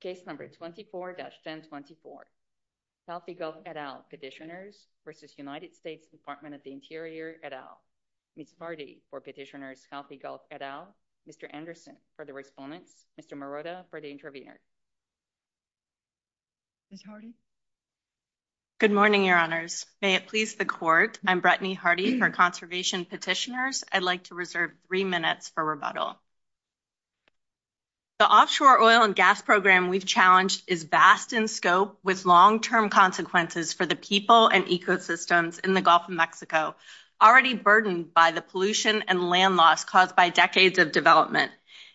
Case number 24-1024. Southie Gulf et al. petitioners versus United States Department of the Interior et al. Ms. Hardy for petitioners Southie Gulf et al. Mr. Anderson for the respondents. Mr. Marotta for the intervener. Ms. Hardy. Good morning your honors. May it please the court. I'm Brettany Hardy for conservation petitioners. I'd like to reserve three minutes for rebuttal. The offshore oil and gas program we've challenged is vast in scope with long-term consequences for the people and ecosystems in the Gulf of Mexico, already burdened by the pollution and land loss caused by decades of development.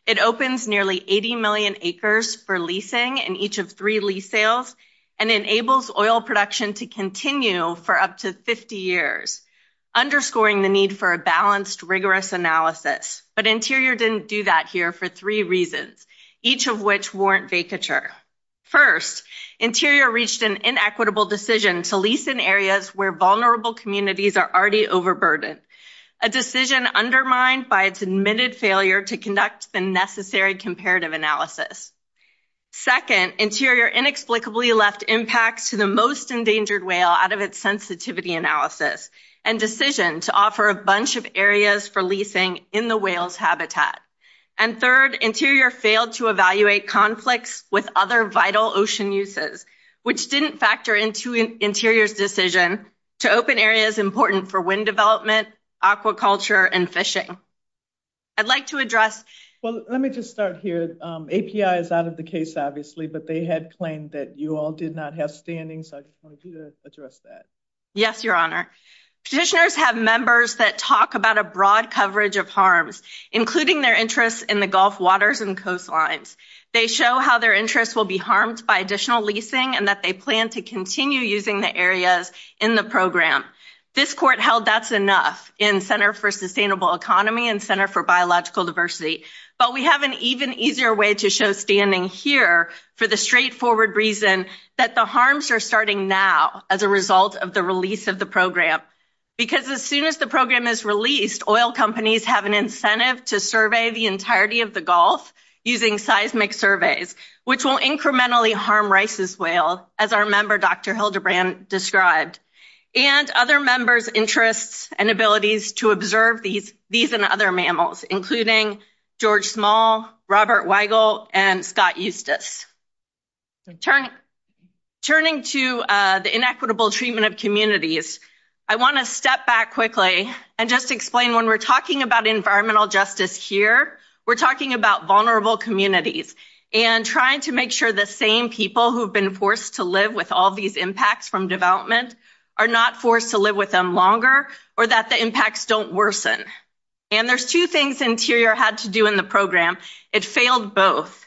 It opens nearly 80 million acres for leasing in each of three lease sales and enables oil production to continue for up to 50 years, underscoring the need for a balanced, rigorous analysis. But Interior didn't do that here for three reasons, each of which warrant vacature. First, Interior reached an inequitable decision to lease in areas where vulnerable communities are already overburdened, a decision undermined by its admitted failure to conduct the necessary comparative analysis. Second, Interior inexplicably left impacts to the most endangered whale out of its sensitivity analysis and decision to offer a bunch of areas for leasing in the whale's habitat. And third, Interior failed to evaluate conflicts with other vital ocean uses, which didn't factor into Interior's decision to open areas important for wind development, aquaculture, and fishing. I'd like to address... Well, let me just start here. API is out of the case, obviously, but they had claimed that you all did not have standing, so I just wanted you to address that. Yes, Your Honor. Petitioners have members that talk about a broad coverage of harms, including their interests in the Gulf waters and coastlines. They show how their interests will be harmed by additional leasing and that they plan to continue using the areas in the program. This court held that's enough in Center for Sustainable Economy and Center for Biological Diversity, but we have an even easier way to show standing here for the straightforward reason that the harms are starting now. As a result of the release of the program, because as soon as the program is released, oil companies have an incentive to survey the entirety of the Gulf using seismic surveys, which will incrementally harm Rice's whale, as our member, Dr. Hildebrand, described. And other members' interests and abilities to observe these and other mammals, including George Small, Robert Weigel, and Scott Eustace. Turning to the inequitable treatment of communities, I want to step back quickly and just explain when we're talking about environmental justice here, we're talking about vulnerable communities and trying to make sure the same people who have been forced to live with all these impacts from development are not forced to live with them longer or that the impacts don't worsen. And there's two things Interior had to do in the program. It failed both.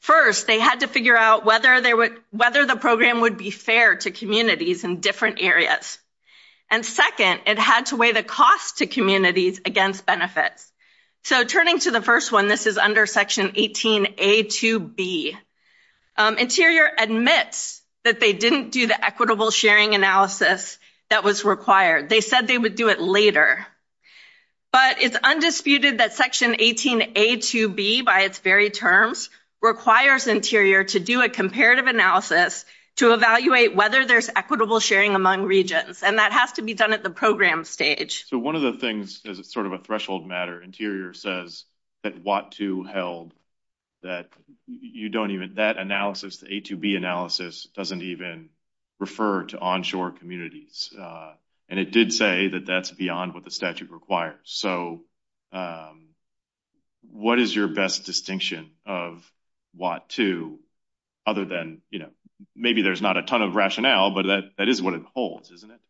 First, they had to figure out whether the program would be fair to communities in different areas. And second, it had to weigh the cost to communities against benefits. So turning to the first one, this is under Section 18A2B. Interior admits that they didn't do the equitable sharing analysis that was required. They said they would do it later. But it's undisputed that Section 18A2B, by its very terms, requires Interior to do a comparative analysis to evaluate whether there's equitable sharing among regions. And that has to be done at the program stage. So one of the things, as sort of a threshold matter, Interior says that WHAT2 held that that analysis, the A2B analysis, doesn't even refer to onshore communities. And it did say that that's beyond what the statute requires. So what is your best distinction of WHAT2 other than, you know, maybe there's not a ton of rationale, but that is what it holds, isn't it?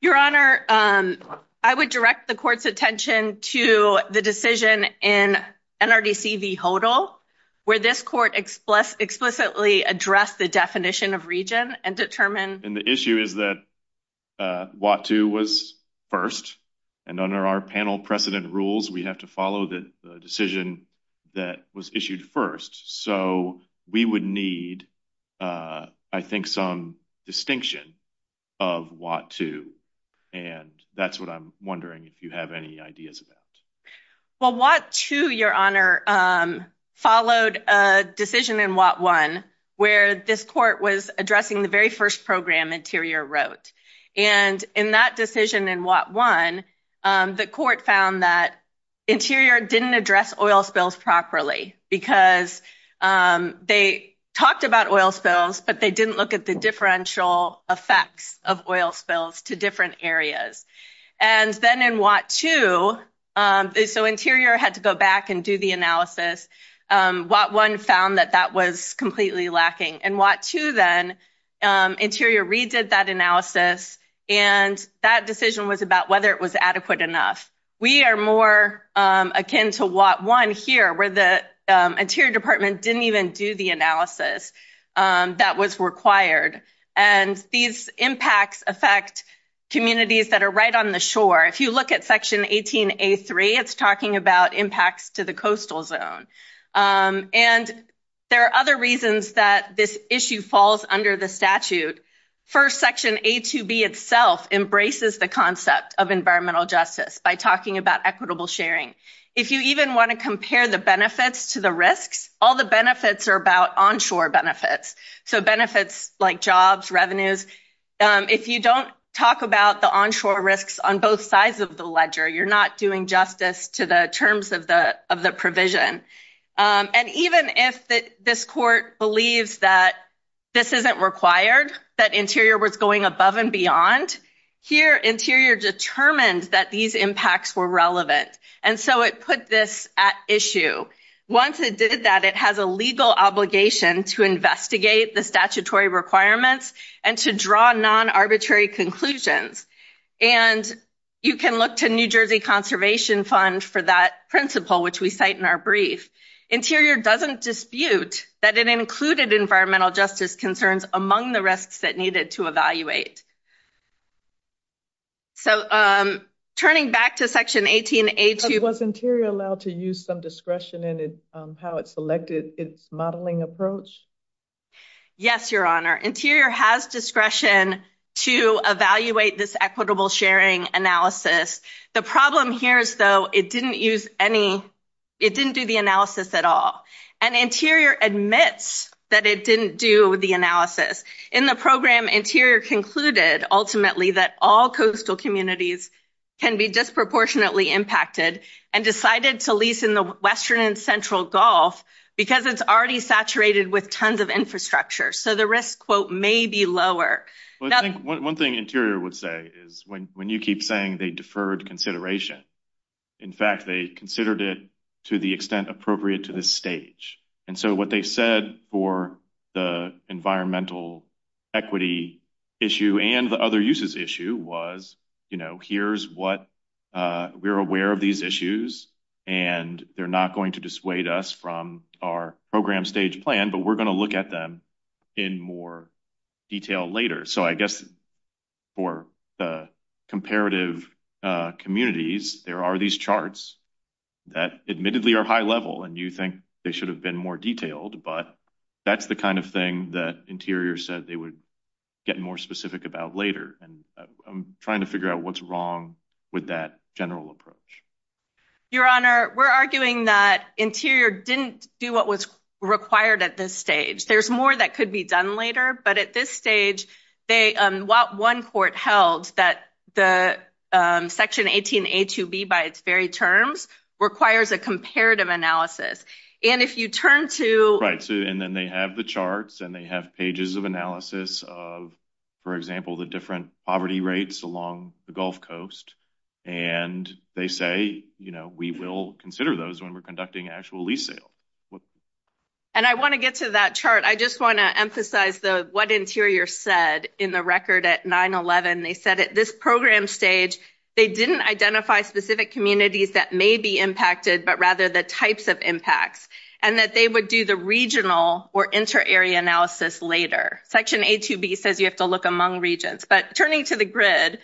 Your Honor, I would direct the court's attention to the decision in NRDC v. HODL, where this court explicitly addressed the definition of region and determined... And the issue is that WHAT2 was first. And under our panel precedent rules, we have to follow the decision that was issued first. So we would need, I think, some distinction of WHAT2. And that's what I'm wondering if you have any ideas about. Well, WHAT2, Your Honor, followed a decision in WHAT1, where this court was addressing the very first program Interior wrote. And in that decision in WHAT1, the court found that Interior didn't address oil spills properly because they talked about oil spills, but they didn't look at the differential effects of oil spills to different areas. And then in WHAT2, so Interior had to go back and do the analysis. WHAT1 found that that was completely lacking. In WHAT2 then, Interior redid that analysis. And that decision was about whether it was adequate enough. We are more akin to WHAT1 here, where the Interior Department didn't even do the analysis that was required. And these impacts affect communities that are right on the shore. If you look at Section 18A3, it's talking about impacts to the coastal zone. And there are other reasons that this issue falls under the statute. First, Section A2B itself embraces the concept of environmental justice by talking about equitable sharing. If you even want to compare the benefits to the risks, all the benefits are about onshore benefits, so benefits like jobs, revenues. If you don't talk about the onshore risks on both sides of the ledger, you're not doing justice to the terms of the provision. And even if this court believes that this isn't required, that Interior was going above and beyond, here Interior determined that these impacts were relevant. And so it put this at issue. Once it did that, it has a legal obligation to investigate the statutory requirements and to draw non-arbitrary conclusions. And you can look to New Jersey Conservation Fund for that principle, which we cite in our brief. Interior doesn't dispute that it included environmental justice concerns among the risks that needed to evaluate. So, turning back to Section 18A2. Was Interior allowed to use some discretion in how it selected its modeling approach? Yes, Your Honor. Interior has discretion to evaluate this equitable sharing analysis. The problem here is, though, it didn't use any, it didn't do the analysis at all. And Interior admits that it didn't do the analysis. In the program, Interior concluded, ultimately, that all coastal communities can be disproportionately impacted and decided to lease in the western and central Gulf because it's already saturated with tons of infrastructure. So the risk, quote, deferred consideration. In fact, they considered it to the extent appropriate to this stage. And so what they said for the environmental equity issue and the other uses issue was, you know, here's what, we're aware of these issues, and they're not going to dissuade us from our program stage plan, but we're going to look at them in more detail later. So I guess, for the comparative communities, there are these charts that admittedly are high level and you think they should have been more detailed, but that's the kind of thing that Interior said they would get more specific about later. And I'm trying to figure out what's wrong with that general approach. Your Honor, we're arguing that Interior didn't do what was required at this stage. There's more that could be done later, but at this stage, they, while one court held that the Section 18A2B, by its very terms, requires a comparative analysis. And if you turn to... Right. And then they have the charts and they have pages of analysis of, for example, the different poverty rates along the Gulf Coast. And they say, you know, we will consider those when we're conducting actual lease sale. And I want to get to that chart. I just want to emphasize what Interior said in the record at 9-11. They said at this program stage, they didn't identify specific communities that may be impacted, but rather the types of impacts, and that they would do the regional or inter-area analysis later. Section A2B says you have to look among regions, but turning to the grid,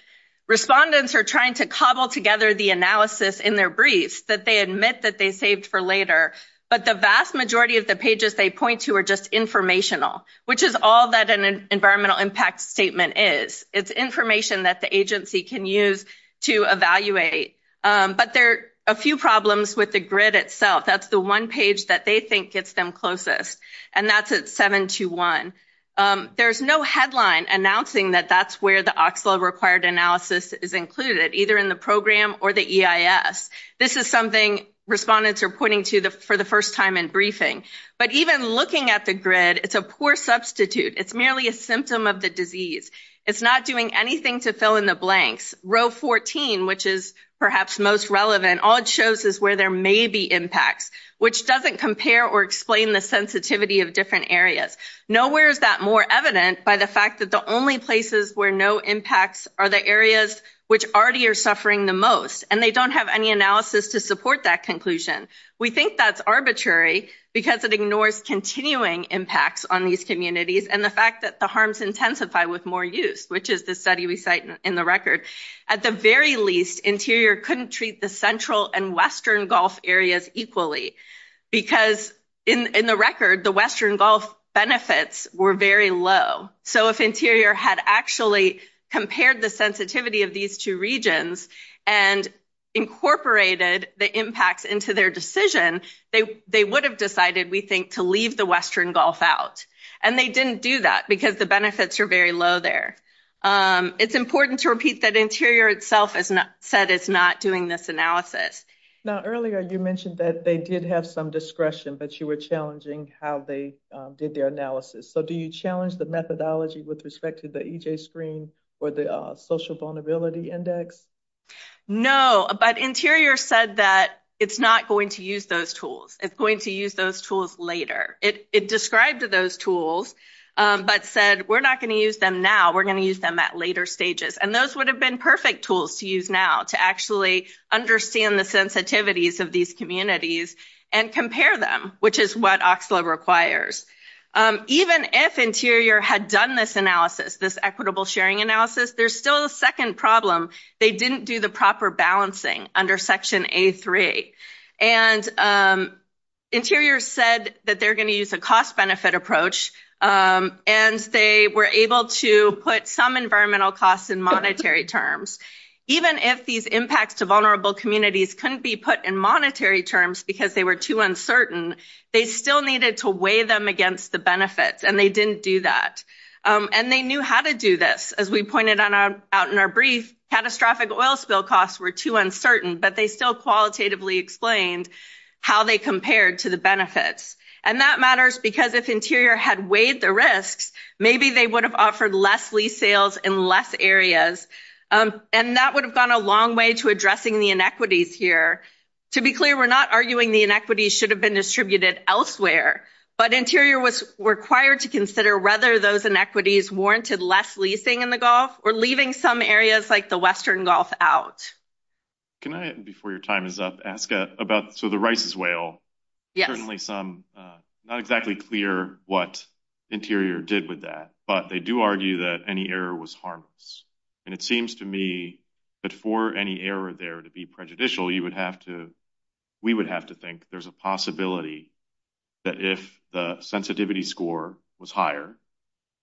respondents are trying to cobble together the analysis in their briefs that they admit that they saved for later, but the vast majority of the pages they point to are just informational, which is all that an environmental impact statement is. It's information that the agency can use to evaluate. But there are a few problems with the grid itself. That's the one page that they think gets them closest, and that's at 7-1. There's no headline announcing that that's where the OXLA-required analysis is included, either in the program or the EIS. This is something respondents are pointing to for the first time in briefing. But even looking at the grid, it's a poor substitute. It's merely a symptom of the disease. It's not doing anything to fill in the blanks. Row 14, which is perhaps most relevant, all it shows is where there may be impacts, which doesn't compare or explain the sensitivity of different areas. Nowhere is that more evident by the fact that the only places where no impacts are the areas which already are suffering the most, and they don't have any analysis to support that conclusion. We think that's arbitrary because it ignores continuing impacts on these communities and the fact that the harms intensify with more use, which is the study we cite in the record. At the very least, Interior couldn't treat the and Western Gulf areas equally because, in the record, the Western Gulf benefits were very low. So if Interior had actually compared the sensitivity of these two regions and incorporated the impacts into their decision, they would have decided, we think, to leave the Western Gulf out, and they didn't do that because the benefits are very low there. It's important to repeat that Interior itself has said it's not doing this analysis. Now, earlier you mentioned that they did have some discretion, but you were challenging how they did their analysis. So do you challenge the methodology with respect to the EJ Screen or the Social Vulnerability Index? No, but Interior said that it's not going to use those tools. It's going to use those tools later. It described those tools, but said, we're not going to use them now. We're going to use them at later stages, and those would have been perfect tools to use now to actually understand the sensitivities of these communities and compare them, which is what OCSLA requires. Even if Interior had done this analysis, this equitable sharing analysis, there's still a second problem. They didn't do the proper balancing under Section A3, and Interior said that they're going to use a cost-benefit approach, and they were able to put some environmental costs in monetary terms. Even if these impacts to vulnerable communities couldn't be put in monetary terms because they were too uncertain, they still needed to weigh them against the benefits, and they didn't do that. And they knew how to do this. As we pointed out in our brief, catastrophic oil spill costs were too uncertain, but they still qualitatively explained how they compared to the benefits. And that matters because if Interior had weighed the risks, maybe they would have offered less lease sales in less areas, and that would have gone a long way to addressing the inequities here. To be clear, we're not arguing the inequities should have been distributed elsewhere, but Interior was required to consider whether those inequities warranted less leasing in the Gulf or leaving some areas like the western Gulf out. Can I, before your time is up, ask about, so the Rice's Whale, certainly some, not exactly clear what Interior did with that, but they do argue that any error was harmless. And it seems to me that for any error there to be prejudicial, you would have to, we would have to think there's a possibility that if the sensitivity score was higher,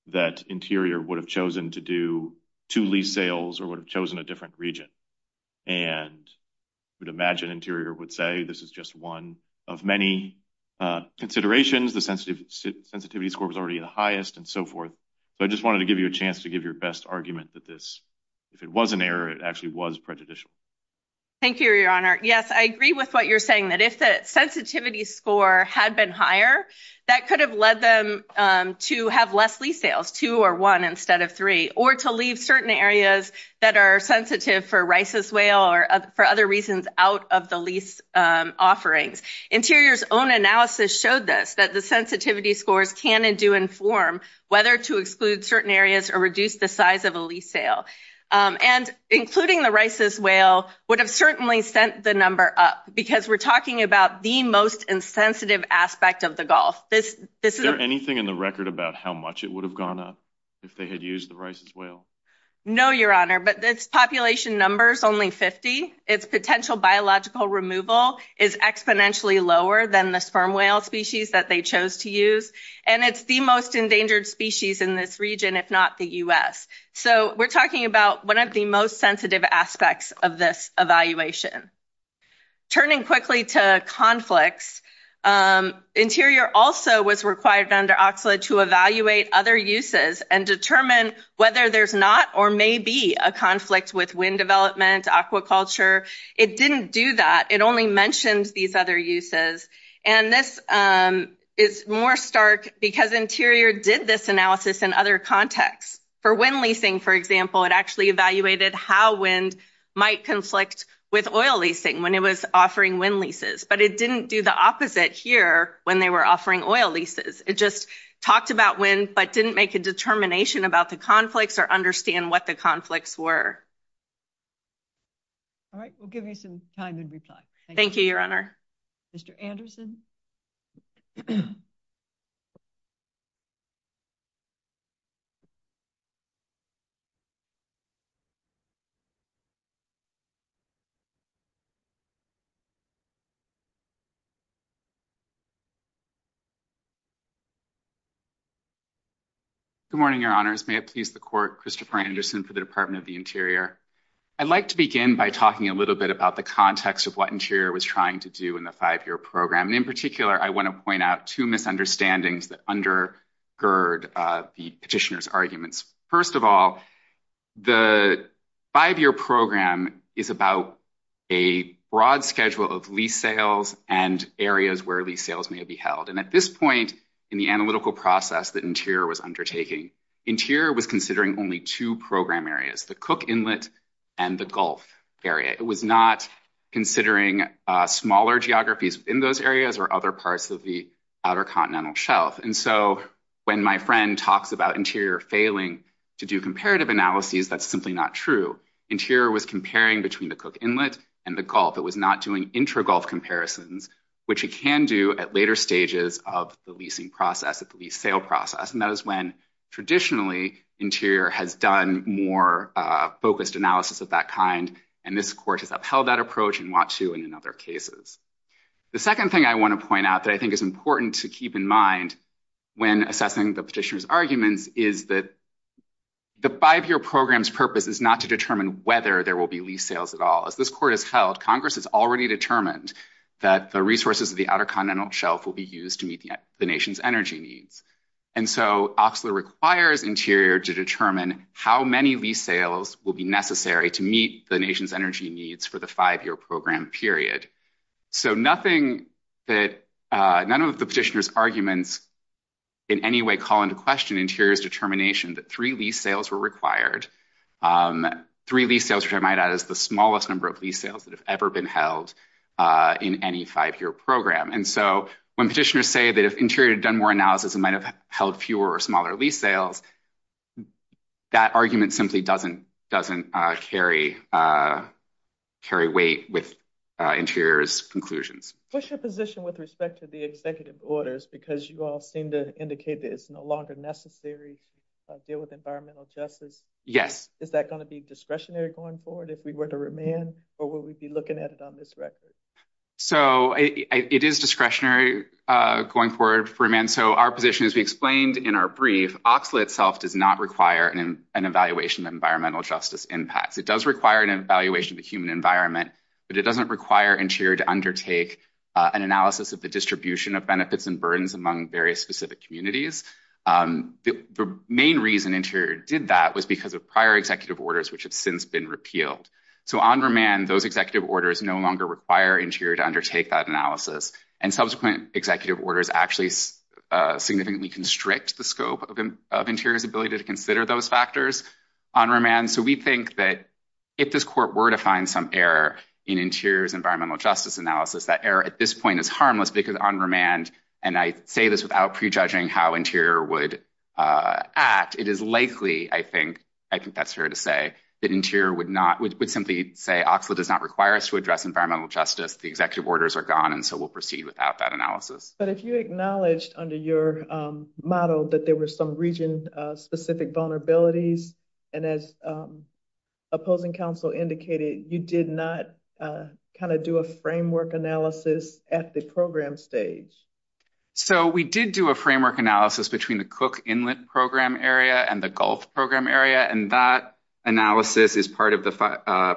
that Interior would have chosen to do two lease sales or would have chosen a different region. And I would imagine Interior would say, this is just one of many considerations. The sensitivity score was already the highest and so forth. So I just wanted to give you a chance to give your best argument that this, if it was an error, it actually was prejudicial. Thank you, your honor. Yes, I agree with what you're saying, that if the sensitivity score had been higher, that could have led them to have less lease sales, two or one instead of three, or to leave certain areas that are sensitive for Rice's Whale or for other reasons out of the lease offerings. Interior's own analysis showed this, that the sensitivity scores can and do inform whether to exclude certain areas or reduce the size of a lease sale. And including the Rice's Whale would have certainly sent the number up because we're talking about the most insensitive aspect of the Gulf. Is there anything in the record about how much it would have gone up if they had used the Rice's Whale? No, your honor, but this population number is only 50. Its potential biological removal is exponentially lower than the sperm whale species that they chose to use. And it's the most endangered species in this region, if not the U.S. So we're talking about one of the most sensitive aspects of this evaluation. Turning quickly to conflicts, Interior also was required under OCSLA to evaluate other uses and determine whether there's not or may be a conflict with wind development, aquaculture. It didn't do that. It only mentioned these other uses. And this is more stark because Interior did this analysis in other contexts. For wind leasing, for example, it actually evaluated how wind might conflict with oil leasing when it was offering wind leases. But it didn't do the opposite here when they were offering oil leases. It just talked about wind but didn't make a determination about the conflicts or understand what the conflicts were. All right, we'll give you some time to reply. Thank you, your honor. Mr. Anderson. Good morning, your honors. May it please the court, Christopher Anderson for the Department of the Interior. I'd like to begin by talking a little bit about the context of what Interior was trying to do in the five-year program. And in particular, I want to point out two misunderstandings that under gird the petitioner's arguments. First of all, the five-year program is about a broad schedule of lease sales and areas where lease sales may be held. And at this point in the analytical process that Interior was undertaking, Interior was considering only two program areas, the Cook Inlet and the Gulf area. It was not considering smaller geographies in those areas or other parts of the continental shelf. And so when my friend talks about Interior failing to do comparative analyses, that's simply not true. Interior was comparing between the Cook Inlet and the Gulf. It was not doing intra-Gulf comparisons, which it can do at later stages of the leasing process, at the lease sale process. And that is when traditionally Interior has done more focused analysis of that kind. And this court has upheld that approach in Watteau and in other cases. The second thing I want to point out that I think is important to keep in mind when assessing the petitioner's arguments is that the five-year program's purpose is not to determine whether there will be lease sales at all. As this court has held, Congress has already determined that the resources of the outer continental shelf will be used to meet the nation's energy needs. And so Oxler requires Interior to determine how many lease sales will be necessary to meet the nation's energy needs for the five-year program period. So none of the petitioner's arguments in any way call into question Interior's determination that three lease sales were required. Three lease sales, which I might add, is the smallest number of lease sales that have ever been held in any five-year program. And so when petitioners say that if Interior had done more analysis and might have held fewer or smaller lease sales, that argument simply doesn't carry weight with Interior's conclusions. What's your position with respect to the executive orders? Because you all seem to indicate that it's no longer necessary to deal with environmental justice. Is that going to be discretionary going forward if we were to remand? Or will we be looking at it on this record? So it is discretionary going forward for remand. So our position, as we explained in our brief, Oxler itself does not require an evaluation of environmental justice impacts. It does require an evaluation of the human environment, but it doesn't require Interior to undertake an analysis of the distribution of benefits and burdens among various specific communities. The main reason Interior did that was because of prior executive orders which have since been repealed. So on remand, those executive orders no longer require Interior to undertake that analysis. And subsequent executive orders actually significantly constrict the scope of Interior's ability to consider those factors on remand. So we think that if this Court were to find some error in Interior's environmental justice analysis, that error at this point is harmless because on remand, and I say this without prejudging how Interior would act, it is likely, I think that's fair to say, that Oxler does not require us to address environmental justice. The executive orders are gone, and so we'll proceed without that analysis. But if you acknowledged under your model that there were some region-specific vulnerabilities, and as opposing counsel indicated, you did not kind of do a framework analysis at the program stage. So we did do a framework analysis between the Cook Inlet program area and the Gulf program area, and that analysis is part of the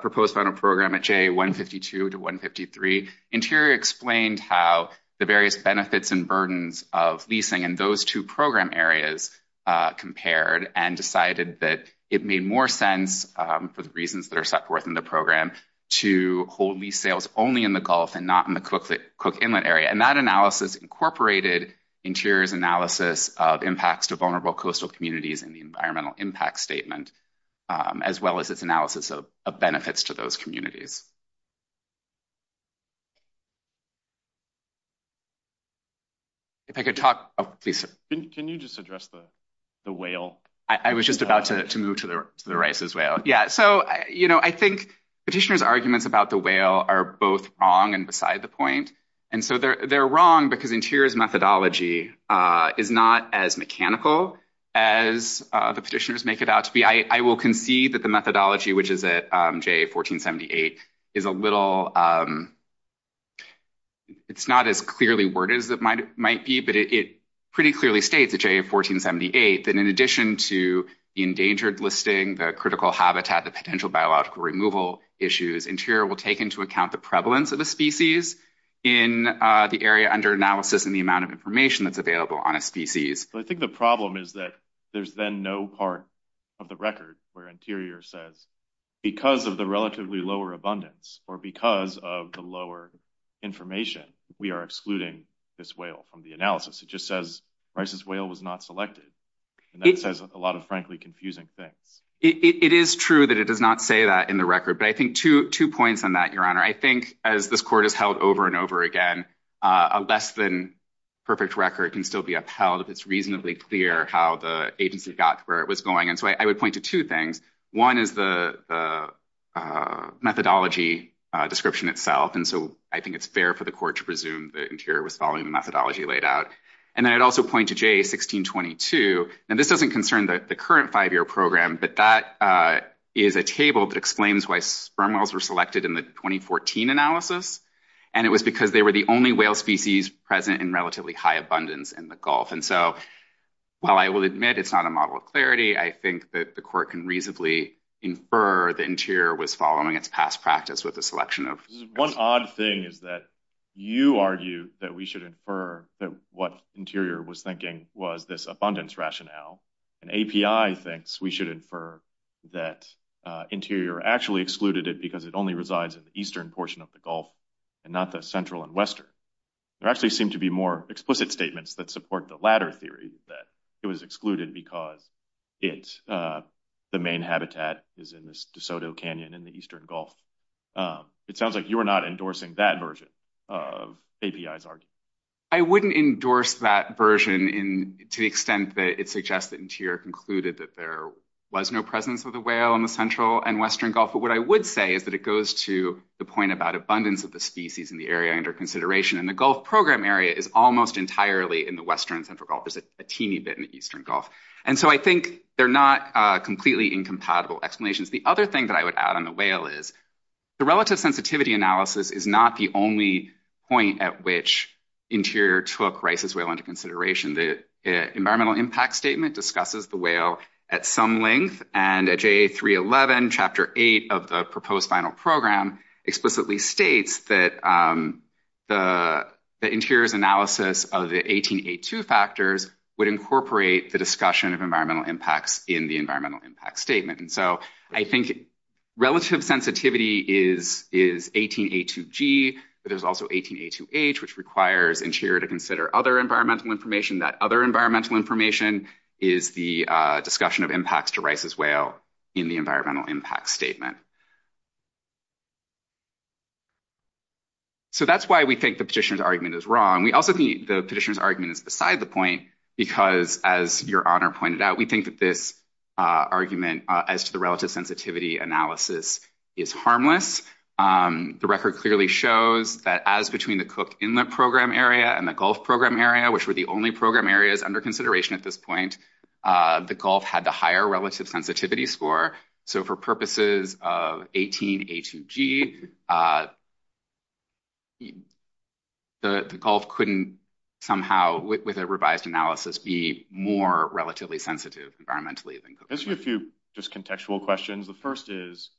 proposed final program at J152 to 153. Interior explained how the various benefits and burdens of leasing in those two program areas compared and decided that it made more sense for the reasons that are set forth in the program to hold lease sales only in the Gulf and not in the Cook Inlet area, and that analysis incorporated Interior's analysis of impacts to vulnerable coastal communities in the environmental impact statement, as well as its analysis of benefits to those communities. If I could talk, please. Can you just address the whale? I was just about to move to the rice's whale. Yeah, so you know, I think petitioner's arguments about the whale are both wrong and beside the point, and so they're wrong because Interior's methodology is not as mechanical as the petitioners make it out to be. I will concede that the methodology, which is at JA 1478, is a little, it's not as clearly worded as it might be, but it pretty clearly states at JA 1478 that in addition to the endangered listing, the critical habitat, the potential biological removal issues, Interior will take into account the prevalence of the species in the area under analysis and the amount of information that's available on a species. I think the problem is that there's then no part of the record where Interior says, because of the relatively lower abundance or because of the lower information, we are excluding this whale from the analysis. It just says rice's whale was not selected, and that says a lot of, frankly, confusing things. It is true that it does not say that in the record, but I think two points on that, Your Honor. I think as this Court has held over and over again, a less than perfect record can still be upheld if it's reasonably clear how the agency got where it was going. And so I would point to two things. One is the methodology description itself. And so I think it's fair for the Court to presume that Interior was following the methodology laid out. And then I'd also point to JA 1622. And this doesn't concern the current five-year program, but that is a table that explains why sperm whales were selected in the 2014 analysis. And it was because they were the only whale species present in relatively high abundance in the Gulf. And so, while I will admit it's not a model of clarity, I think that the Court can reasonably infer that Interior was following its past practice with a selection of... One odd thing is that you argue that we should infer that what Interior was thinking was this abundance rationale. And API thinks we should infer that Interior actually excluded it because it only resides in the eastern portion of the Gulf and not the central and western. There actually seem to be more explicit statements that support the latter theory that it was excluded because the main habitat is in this DeSoto Canyon in the eastern Gulf. It sounds like you are not endorsing that version of API's argument. I wouldn't endorse that version to the extent that it suggests that Interior concluded that there was no presence of the whale in the central and western Gulf. But what I would say is that it goes to the point about abundance of the species in the area under consideration. And the Gulf program area is almost entirely in the western and central Gulf. There's a teeny bit in the eastern Gulf. And so, I think they're not completely incompatible explanations. The other thing that I would add on the whale is the relative sensitivity analysis is not the only point at which Interior took Rice's whale into consideration. The Chapter 8 of the proposed final program explicitly states that the Interior's analysis of the 18A2 factors would incorporate the discussion of environmental impacts in the environmental impact statement. And so, I think relative sensitivity is 18A2G, but there's also 18A2H, which requires Interior to consider other environmental information. That other environmental information is the discussion of impacts to Rice's whale in the environmental impact statement. So, that's why we think the petitioner's argument is wrong. We also think the petitioner's argument is beside the point because, as Your Honor pointed out, we think that this argument as to the relative sensitivity analysis is harmless. The record clearly shows that as between the Cook Inlet program area and the Gulf program area, which were the only program areas under consideration at this point, the Gulf had the higher relative sensitivity score. So, for purposes of 18A2G, the Gulf couldn't somehow, with a revised analysis, be more relatively sensitive environmentally than Cook Inlet. I'll ask you a few just contextual questions. The first is,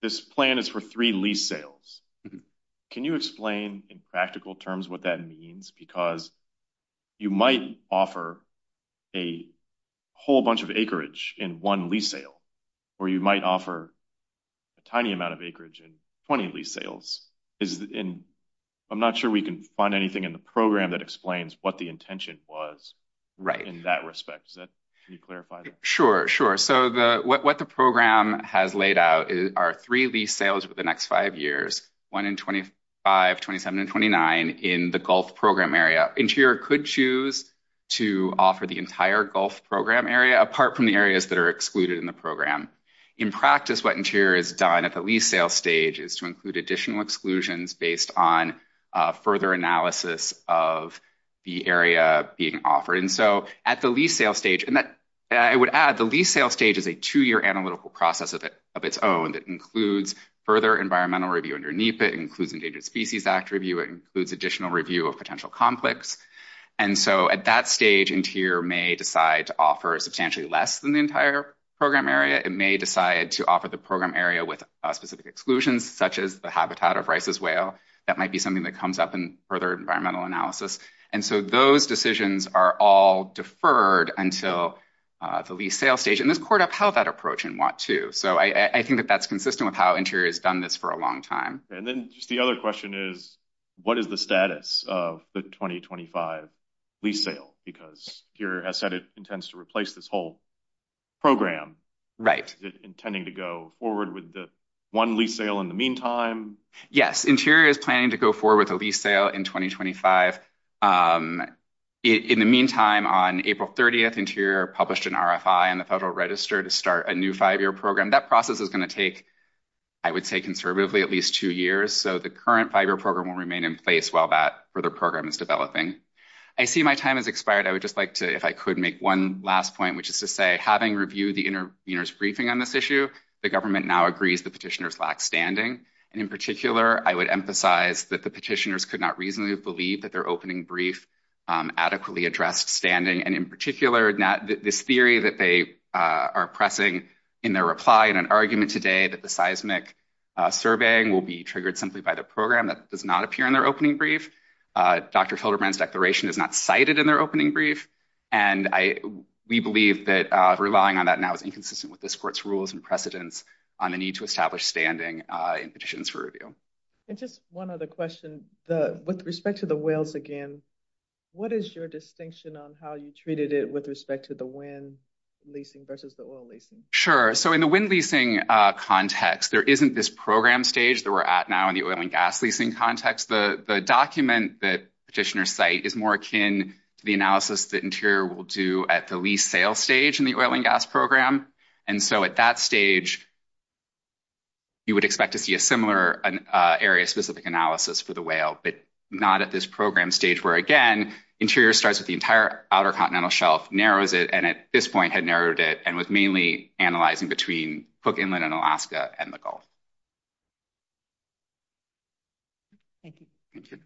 this plan is for three lease sales. Can you explain in practical terms what that means? Because you might offer a whole bunch of acreage in one lease sale, or you might offer a tiny amount of acreage in 20 lease sales. I'm not sure we can find anything in the program that explains what the intention was in that respect. Can you clarify that? Sure, sure. What the program has laid out are three lease sales over the next five years, one in 25, 27, and 29 in the Gulf program area. Interior could choose to offer the entire Gulf program area apart from the areas that are excluded in the program. In practice, what Interior has done at the lease sale stage is to include additional exclusions based on further analysis of the area being offered. So, at the lease sale stage, and I would add, the lease sale stage is a two-year analytical process of its own that includes further environmental review underneath. It includes Endangered Species Act review. It includes additional review of potential complex. And so, at that stage, Interior may decide to offer substantially less than the entire program area. It may decide to offer the program area with specific exclusions, such as the habitat of Rice's Whale. That might be something that comes up in further environmental analysis. And so, those decisions are all deferred until the lease sale stage. And this caught up how that approach in WANT 2. So, I think that that's consistent with how Interior has done this for a long time. And then just the other question is, what is the status of the 2025 lease sale? Because Interior has said it intends to replace this whole program. Right. Is it intending to go forward with the one lease sale in the meantime? Yes, Interior is planning to go forward with a lease sale. In the meantime, on April 30th, Interior published an RFI on the Federal Register to start a new five-year program. That process is going to take, I would say conservatively, at least two years. So, the current five-year program will remain in place while that further program is developing. I see my time has expired. I would just like to, if I could, make one last point, which is to say, having reviewed the intervener's briefing on this issue, the government now agrees the petitioners lack standing. And in particular, I would emphasize that the petitioners could not reasonably believe that their opening brief adequately addressed standing. And in particular, this theory that they are pressing in their reply in an argument today that the seismic surveying will be triggered simply by the program, that does not appear in their opening brief. Dr. Felderbrand's declaration is not cited in their opening brief. And we believe that relying on that now is inconsistent with this court's rules and precedents on the need to establish standing in petitions for review. And just one other question. With respect to the whales again, what is your distinction on how you treated it with respect to the wind leasing versus the oil leasing? Sure. So, in the wind leasing context, there isn't this program stage that we're at now in the oil and gas leasing context. The document that petitioners cite is more akin to the analysis that Interior will do at the lease sale stage in the oil and gas program. And so, at that stage, you would expect to see a similar area-specific analysis for the whale, but not at this program stage where, again, Interior starts with the entire outer continental shelf, narrows it, and at this point had narrowed it and was mainly analyzing between Cook Inlet in Alaska and the Gulf. Thank you.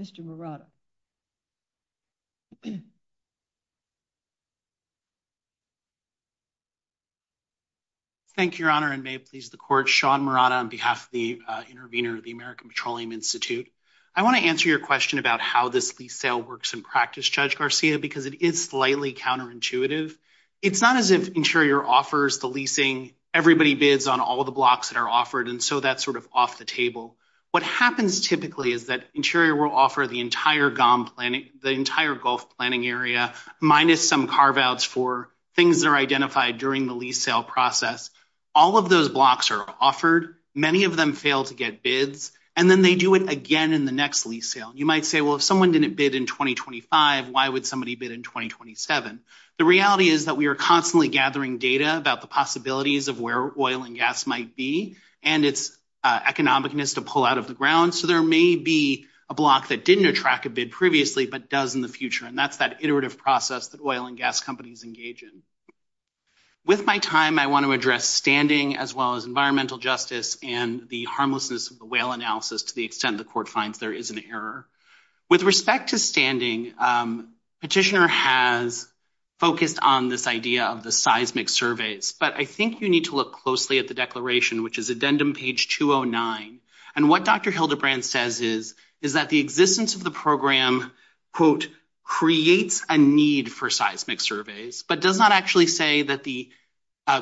Mr. Murata. Thank you, Your Honor, and may it please the Court. Sean Murata on behalf of the intervener of the American Petroleum Institute. I want to answer your question about how this lease sale works in practice, Judge Garcia, because it is slightly counterintuitive. It's not as if Interior offers the leasing, everybody bids on all the blocks that are offered, and so that's sort of off the table. What happens typically is that Interior will offer the entire Gulf planning area minus some carve-outs for things that are identified during the lease sale process. All of those blocks are offered. Many of them fail to get bids, and then they do it again in the next lease sale. You might say, well, if someone didn't bid in 2025, why would somebody bid in 2027? The reality is that we are constantly gathering data about the possibilities of where oil and gas might be and its economicness to pull out of the ground. So there may be a block that didn't attract a bid previously but does in the future, and that's that iterative process that oil and gas companies engage in. With my time, I want to address standing as well as environmental justice and the harmlessness of the whale analysis to the petitioner has focused on this idea of the seismic surveys. But I think you need to look closely at the declaration, which is addendum page 209. And what Dr. Hildebrand says is that the existence of the program, quote, creates a need for seismic surveys, but does not actually say that the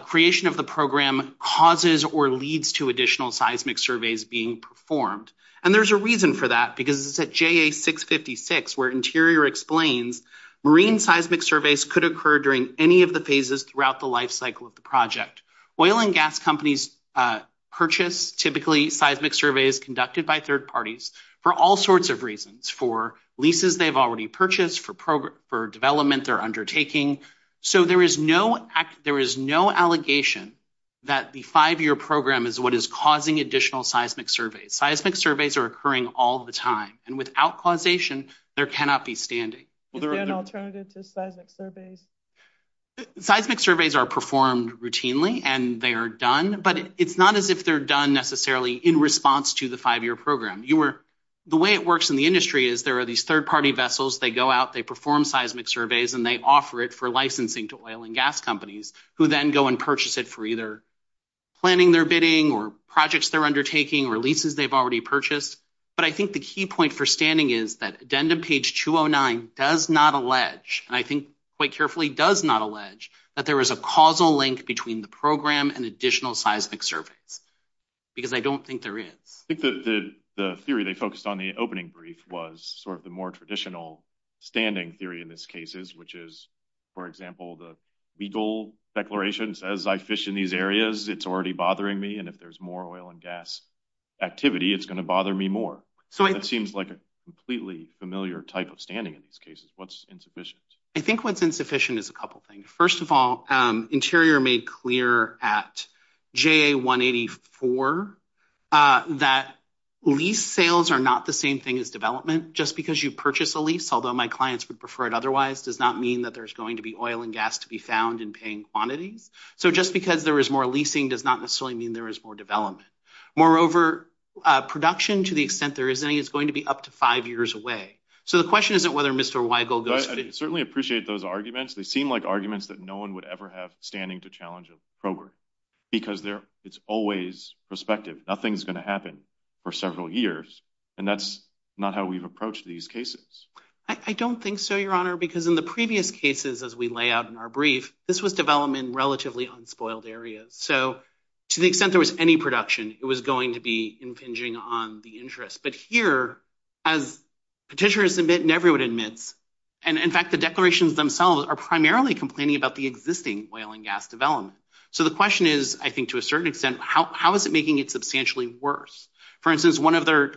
creation of the program causes or leads to additional seismic surveys being performed. And there's a reason for that, because it's at JA656, where Interior explains, marine seismic surveys could occur during any of the phases throughout the life cycle of the project. Oil and gas companies purchase typically seismic surveys conducted by third parties for all sorts of reasons, for leases they've already purchased, for development they're undertaking. So there is no allegation that the five-year program is what is causing additional seismic surveys. Seismic surveys are occurring all the time. And without causation, there cannot be standing. Is there an alternative to seismic surveys? Seismic surveys are performed routinely and they are done, but it's not as if they're done necessarily in response to the five-year program. The way it works in the industry is there are these third-party vessels, they go out, they perform seismic surveys, and they offer it for licensing to oil and gas companies, who then go and purchase it for either planning their bidding or projects they're undertaking or leases they've already purchased. But I think the key point for standing is that addendum page 209 does not allege, and I think quite carefully does not allege, that there is a causal link between the program and additional seismic surveys, because I don't think there is. I think the theory they focused on in the opening brief was sort of the more traditional standing theory in this case, which is, for example, the legal declaration says, I fish in these areas, it's already bothering me, and if there's more oil and gas activity, it's going to bother me more. So it seems like a completely familiar type of standing in these cases. What's insufficient? I think what's insufficient is a couple things. First of all, Interior made clear at JA184 that lease sales are not the same thing as development. Just because you purchase a lease, although my clients would prefer it otherwise, does not mean that there's going to be oil and gas to be found in paying quantities. So just because there is more leasing does not necessarily mean there is more development. Moreover, production, to the extent there is any, is going to be up to five years away. So the question isn't whether Mr. Weigel goes... I certainly appreciate those arguments. They seem like arguments that no one would ever have standing to challenge a program, because it's always prospective. Nothing's going to happen for several years, and that's not how we've approached these cases. I don't think so, because in the previous cases, as we lay out in our brief, this was development in relatively unspoiled areas. So to the extent there was any production, it was going to be impinging on the interest. But here, as petitioners admit and everyone admits, and in fact, the declarations themselves are primarily complaining about the existing oil and gas development. So the question is, I think to a certain extent, how is it making it substantially worse? For instance, one of their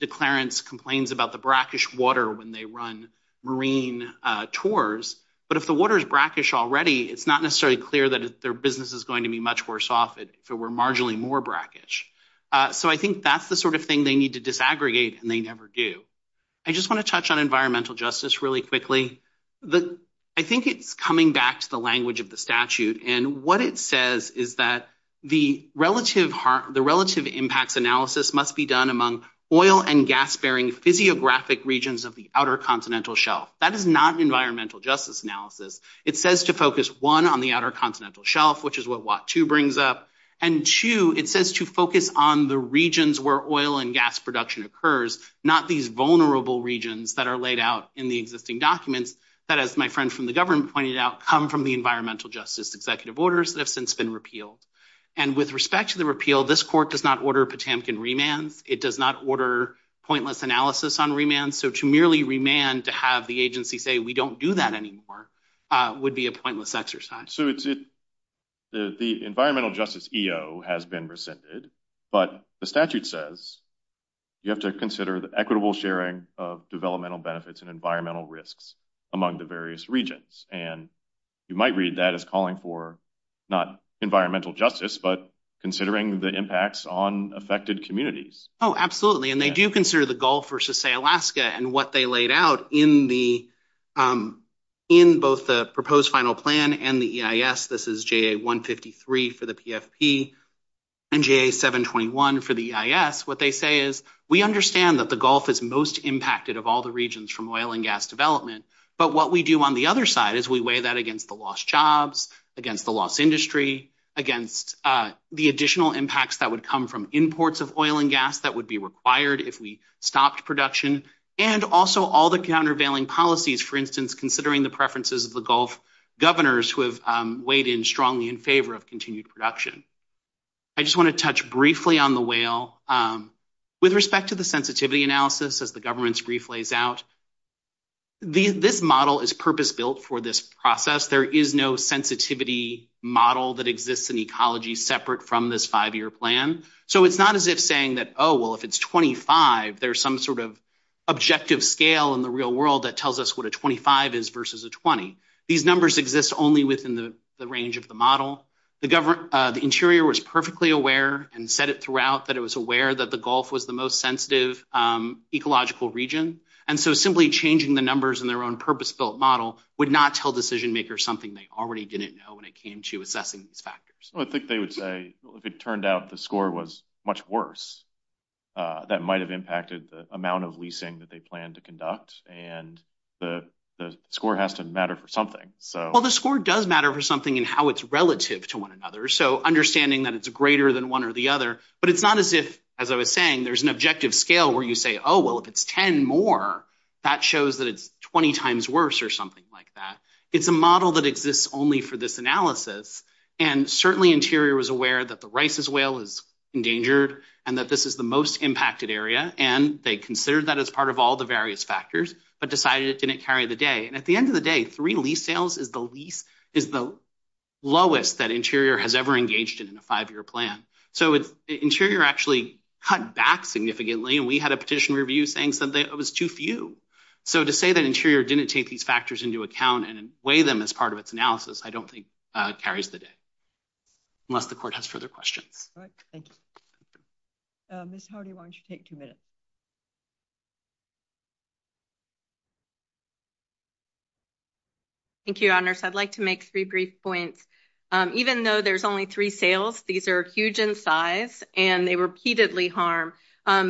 declarants complains about the brackish water when they run marine tours, but if the water is brackish already, it's not necessarily clear that their business is going to be much worse off if it were marginally more brackish. So I think that's the sort of thing they need to disaggregate, and they never do. I just want to touch on environmental justice really quickly. I think it's coming back to the language of the statute, and what it says is that the relative impacts analysis must be done among oil and gas-bearing physiographic regions of the outer continental shelf. That is not an environmental justice analysis. It says to focus, one, on the outer continental shelf, which is what WOT 2 brings up, and two, it says to focus on the regions where oil and gas production occurs, not these vulnerable regions that are laid out in the existing documents that, as my friend from the government pointed out, come from the environmental justice executive orders that have since been repealed. And with respect to the repeal, this court does not order Potamkin remands. It does not order pointless analysis on remands. So to merely remand to have the agency say, we don't do that anymore, would be a pointless exercise. So the environmental justice EO has been rescinded, but the statute says you have to consider the equitable sharing of developmental benefits and environmental risks among the various regions, and you might read that as calling for not environmental justice, but considering the impacts on affected communities. Oh, absolutely. And they do consider the Gulf versus, say, Alaska, and what they laid out in both the proposed final plan and the EIS. This is JA 153 for the PFP and JA 721 for the EIS. What they say is, we understand that the Gulf is most impacted of all the regions from oil and gas development, but what we do on the other side is we weigh that against the lost jobs, against the lost industry, against the additional impacts that would come from imports of oil and gas that would be required if we stopped production, and also all the countervailing policies, for instance, considering the preferences of the Gulf governors who have weighed in strongly in favor of continued production. I just want to touch briefly on the whale. With respect to the sensitivity analysis, as the government's brief lays out, this model is purpose-built for this process. There is no sensitivity model that exists in ecology separate from this five-year plan, so it's not as if saying that, oh, well, if it's 25, there's some sort of objective scale in the real world that tells us what a 25 is versus a 20. These numbers exist only within the range of the model. The interior was perfectly aware and said it throughout that it was aware that the Gulf was the most sensitive ecological region, and so simply changing the numbers in their own purpose-built model would not tell decision-makers something they already didn't know when it came to assessing these factors. I think they would say, well, if it turned out the score was much worse, that might have impacted the amount of leasing that they planned to conduct, and the score has to matter for something. Well, the score does matter for something in how it's relative to one another, so understanding that it's greater than one or the other, but it's not as if, as I was saying, there's an objective scale where you say, oh, well, if it's 10 more, that shows that it's 20 times worse or something like that. It's a model that exists only for this analysis, and certainly interior was aware that the Rice's Whale is endangered and that this is the most impacted area, and they considered that as part of all the various factors but decided it didn't carry the day, and at the end of the day, three lease sales is the least, is the lowest that interior has ever engaged in in a five-year plan, so interior actually cut back significantly, and we had a petition review saying something that was too few, so to say that interior didn't take these factors into account and weigh them as part of its analysis I don't think carries the day, unless the court has further questions. All right, thank you. Ms. Hardy, why don't you take two minutes? Thank you, Your Honors. I'd like to make three brief points. Even though there's only three sales, these are huge in size, and they repeatedly harm.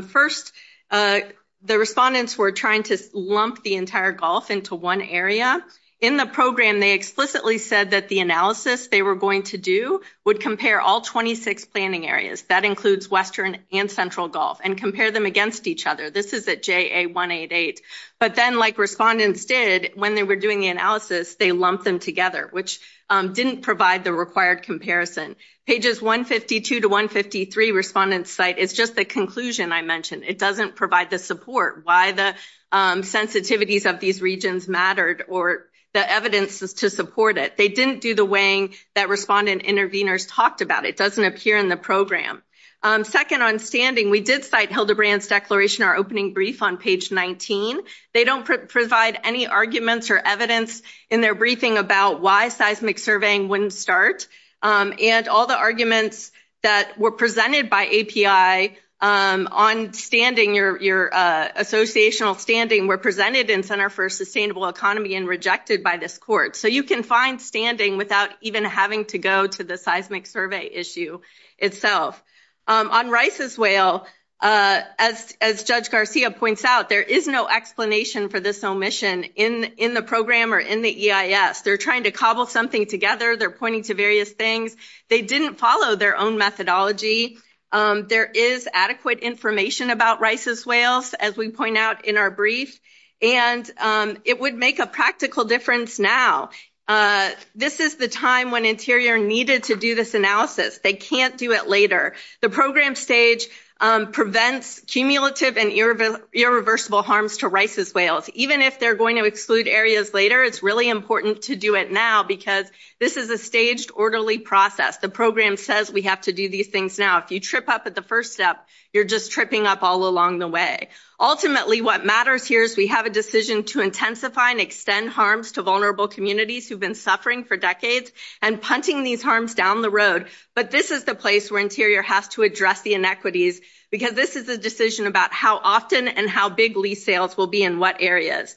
First, the respondents were trying to lump the entire Gulf into one area. In the program, they explicitly said that the analysis they were going to do would compare all 26 planning areas, that includes Western and Central Gulf, and compare them against each other. This is at JA 188, but then like respondents did when they were doing the analysis, they lumped them together, which didn't provide the required comparison. Pages 152 to 153 respondents cite is just the conclusion I mentioned. It doesn't provide the support, why the sensitivities of these regions mattered or the evidence is to support it. They didn't do the weighing that respondent interveners talked about. It doesn't appear in the program. Second, on standing, we did cite Hildebrandt's declaration, our opening brief on page 19. They don't provide any arguments or evidence in their briefing about why seismic surveying wouldn't start. All the arguments that were presented by API on standing, your associational standing, were presented in Center for Sustainable Economy and rejected by this court. You can find standing without even having to go to the seismic survey issue itself. On Rice's Whale, as Judge Garcia points out, there is no explanation for this omission in the program or in the EIS. They're trying to cobble something together. They're pointing to various things. They didn't follow their own methodology. There is adequate information about Rice's Whales, as we point out in our brief, and it would make a practical difference now. This is the time when Interior needed to do this analysis. They can't do it later. The program stage prevents cumulative and irreversible harms to Rice's Whales. Even if they're going to exclude areas later, it's really important to do it now because this is a staged, orderly process. The program says we have to do these things now. If you trip up at the first step, you're just tripping up all along the way. Ultimately, what matters here is we have a decision to intensify and extend harms to vulnerable communities who've been suffering for decades and punting these harms down the road, but this is the place where Interior has to address the inequities because this is a decision about how often and how big lease sales will be in what areas.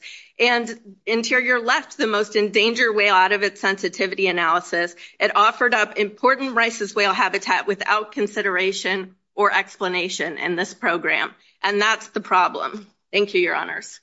Interior left the most endangered whale out of its sensitivity analysis. It offered up important Rice's Whale habitat without consideration or explanation in this program, and that's the problem. Thank you, your honors.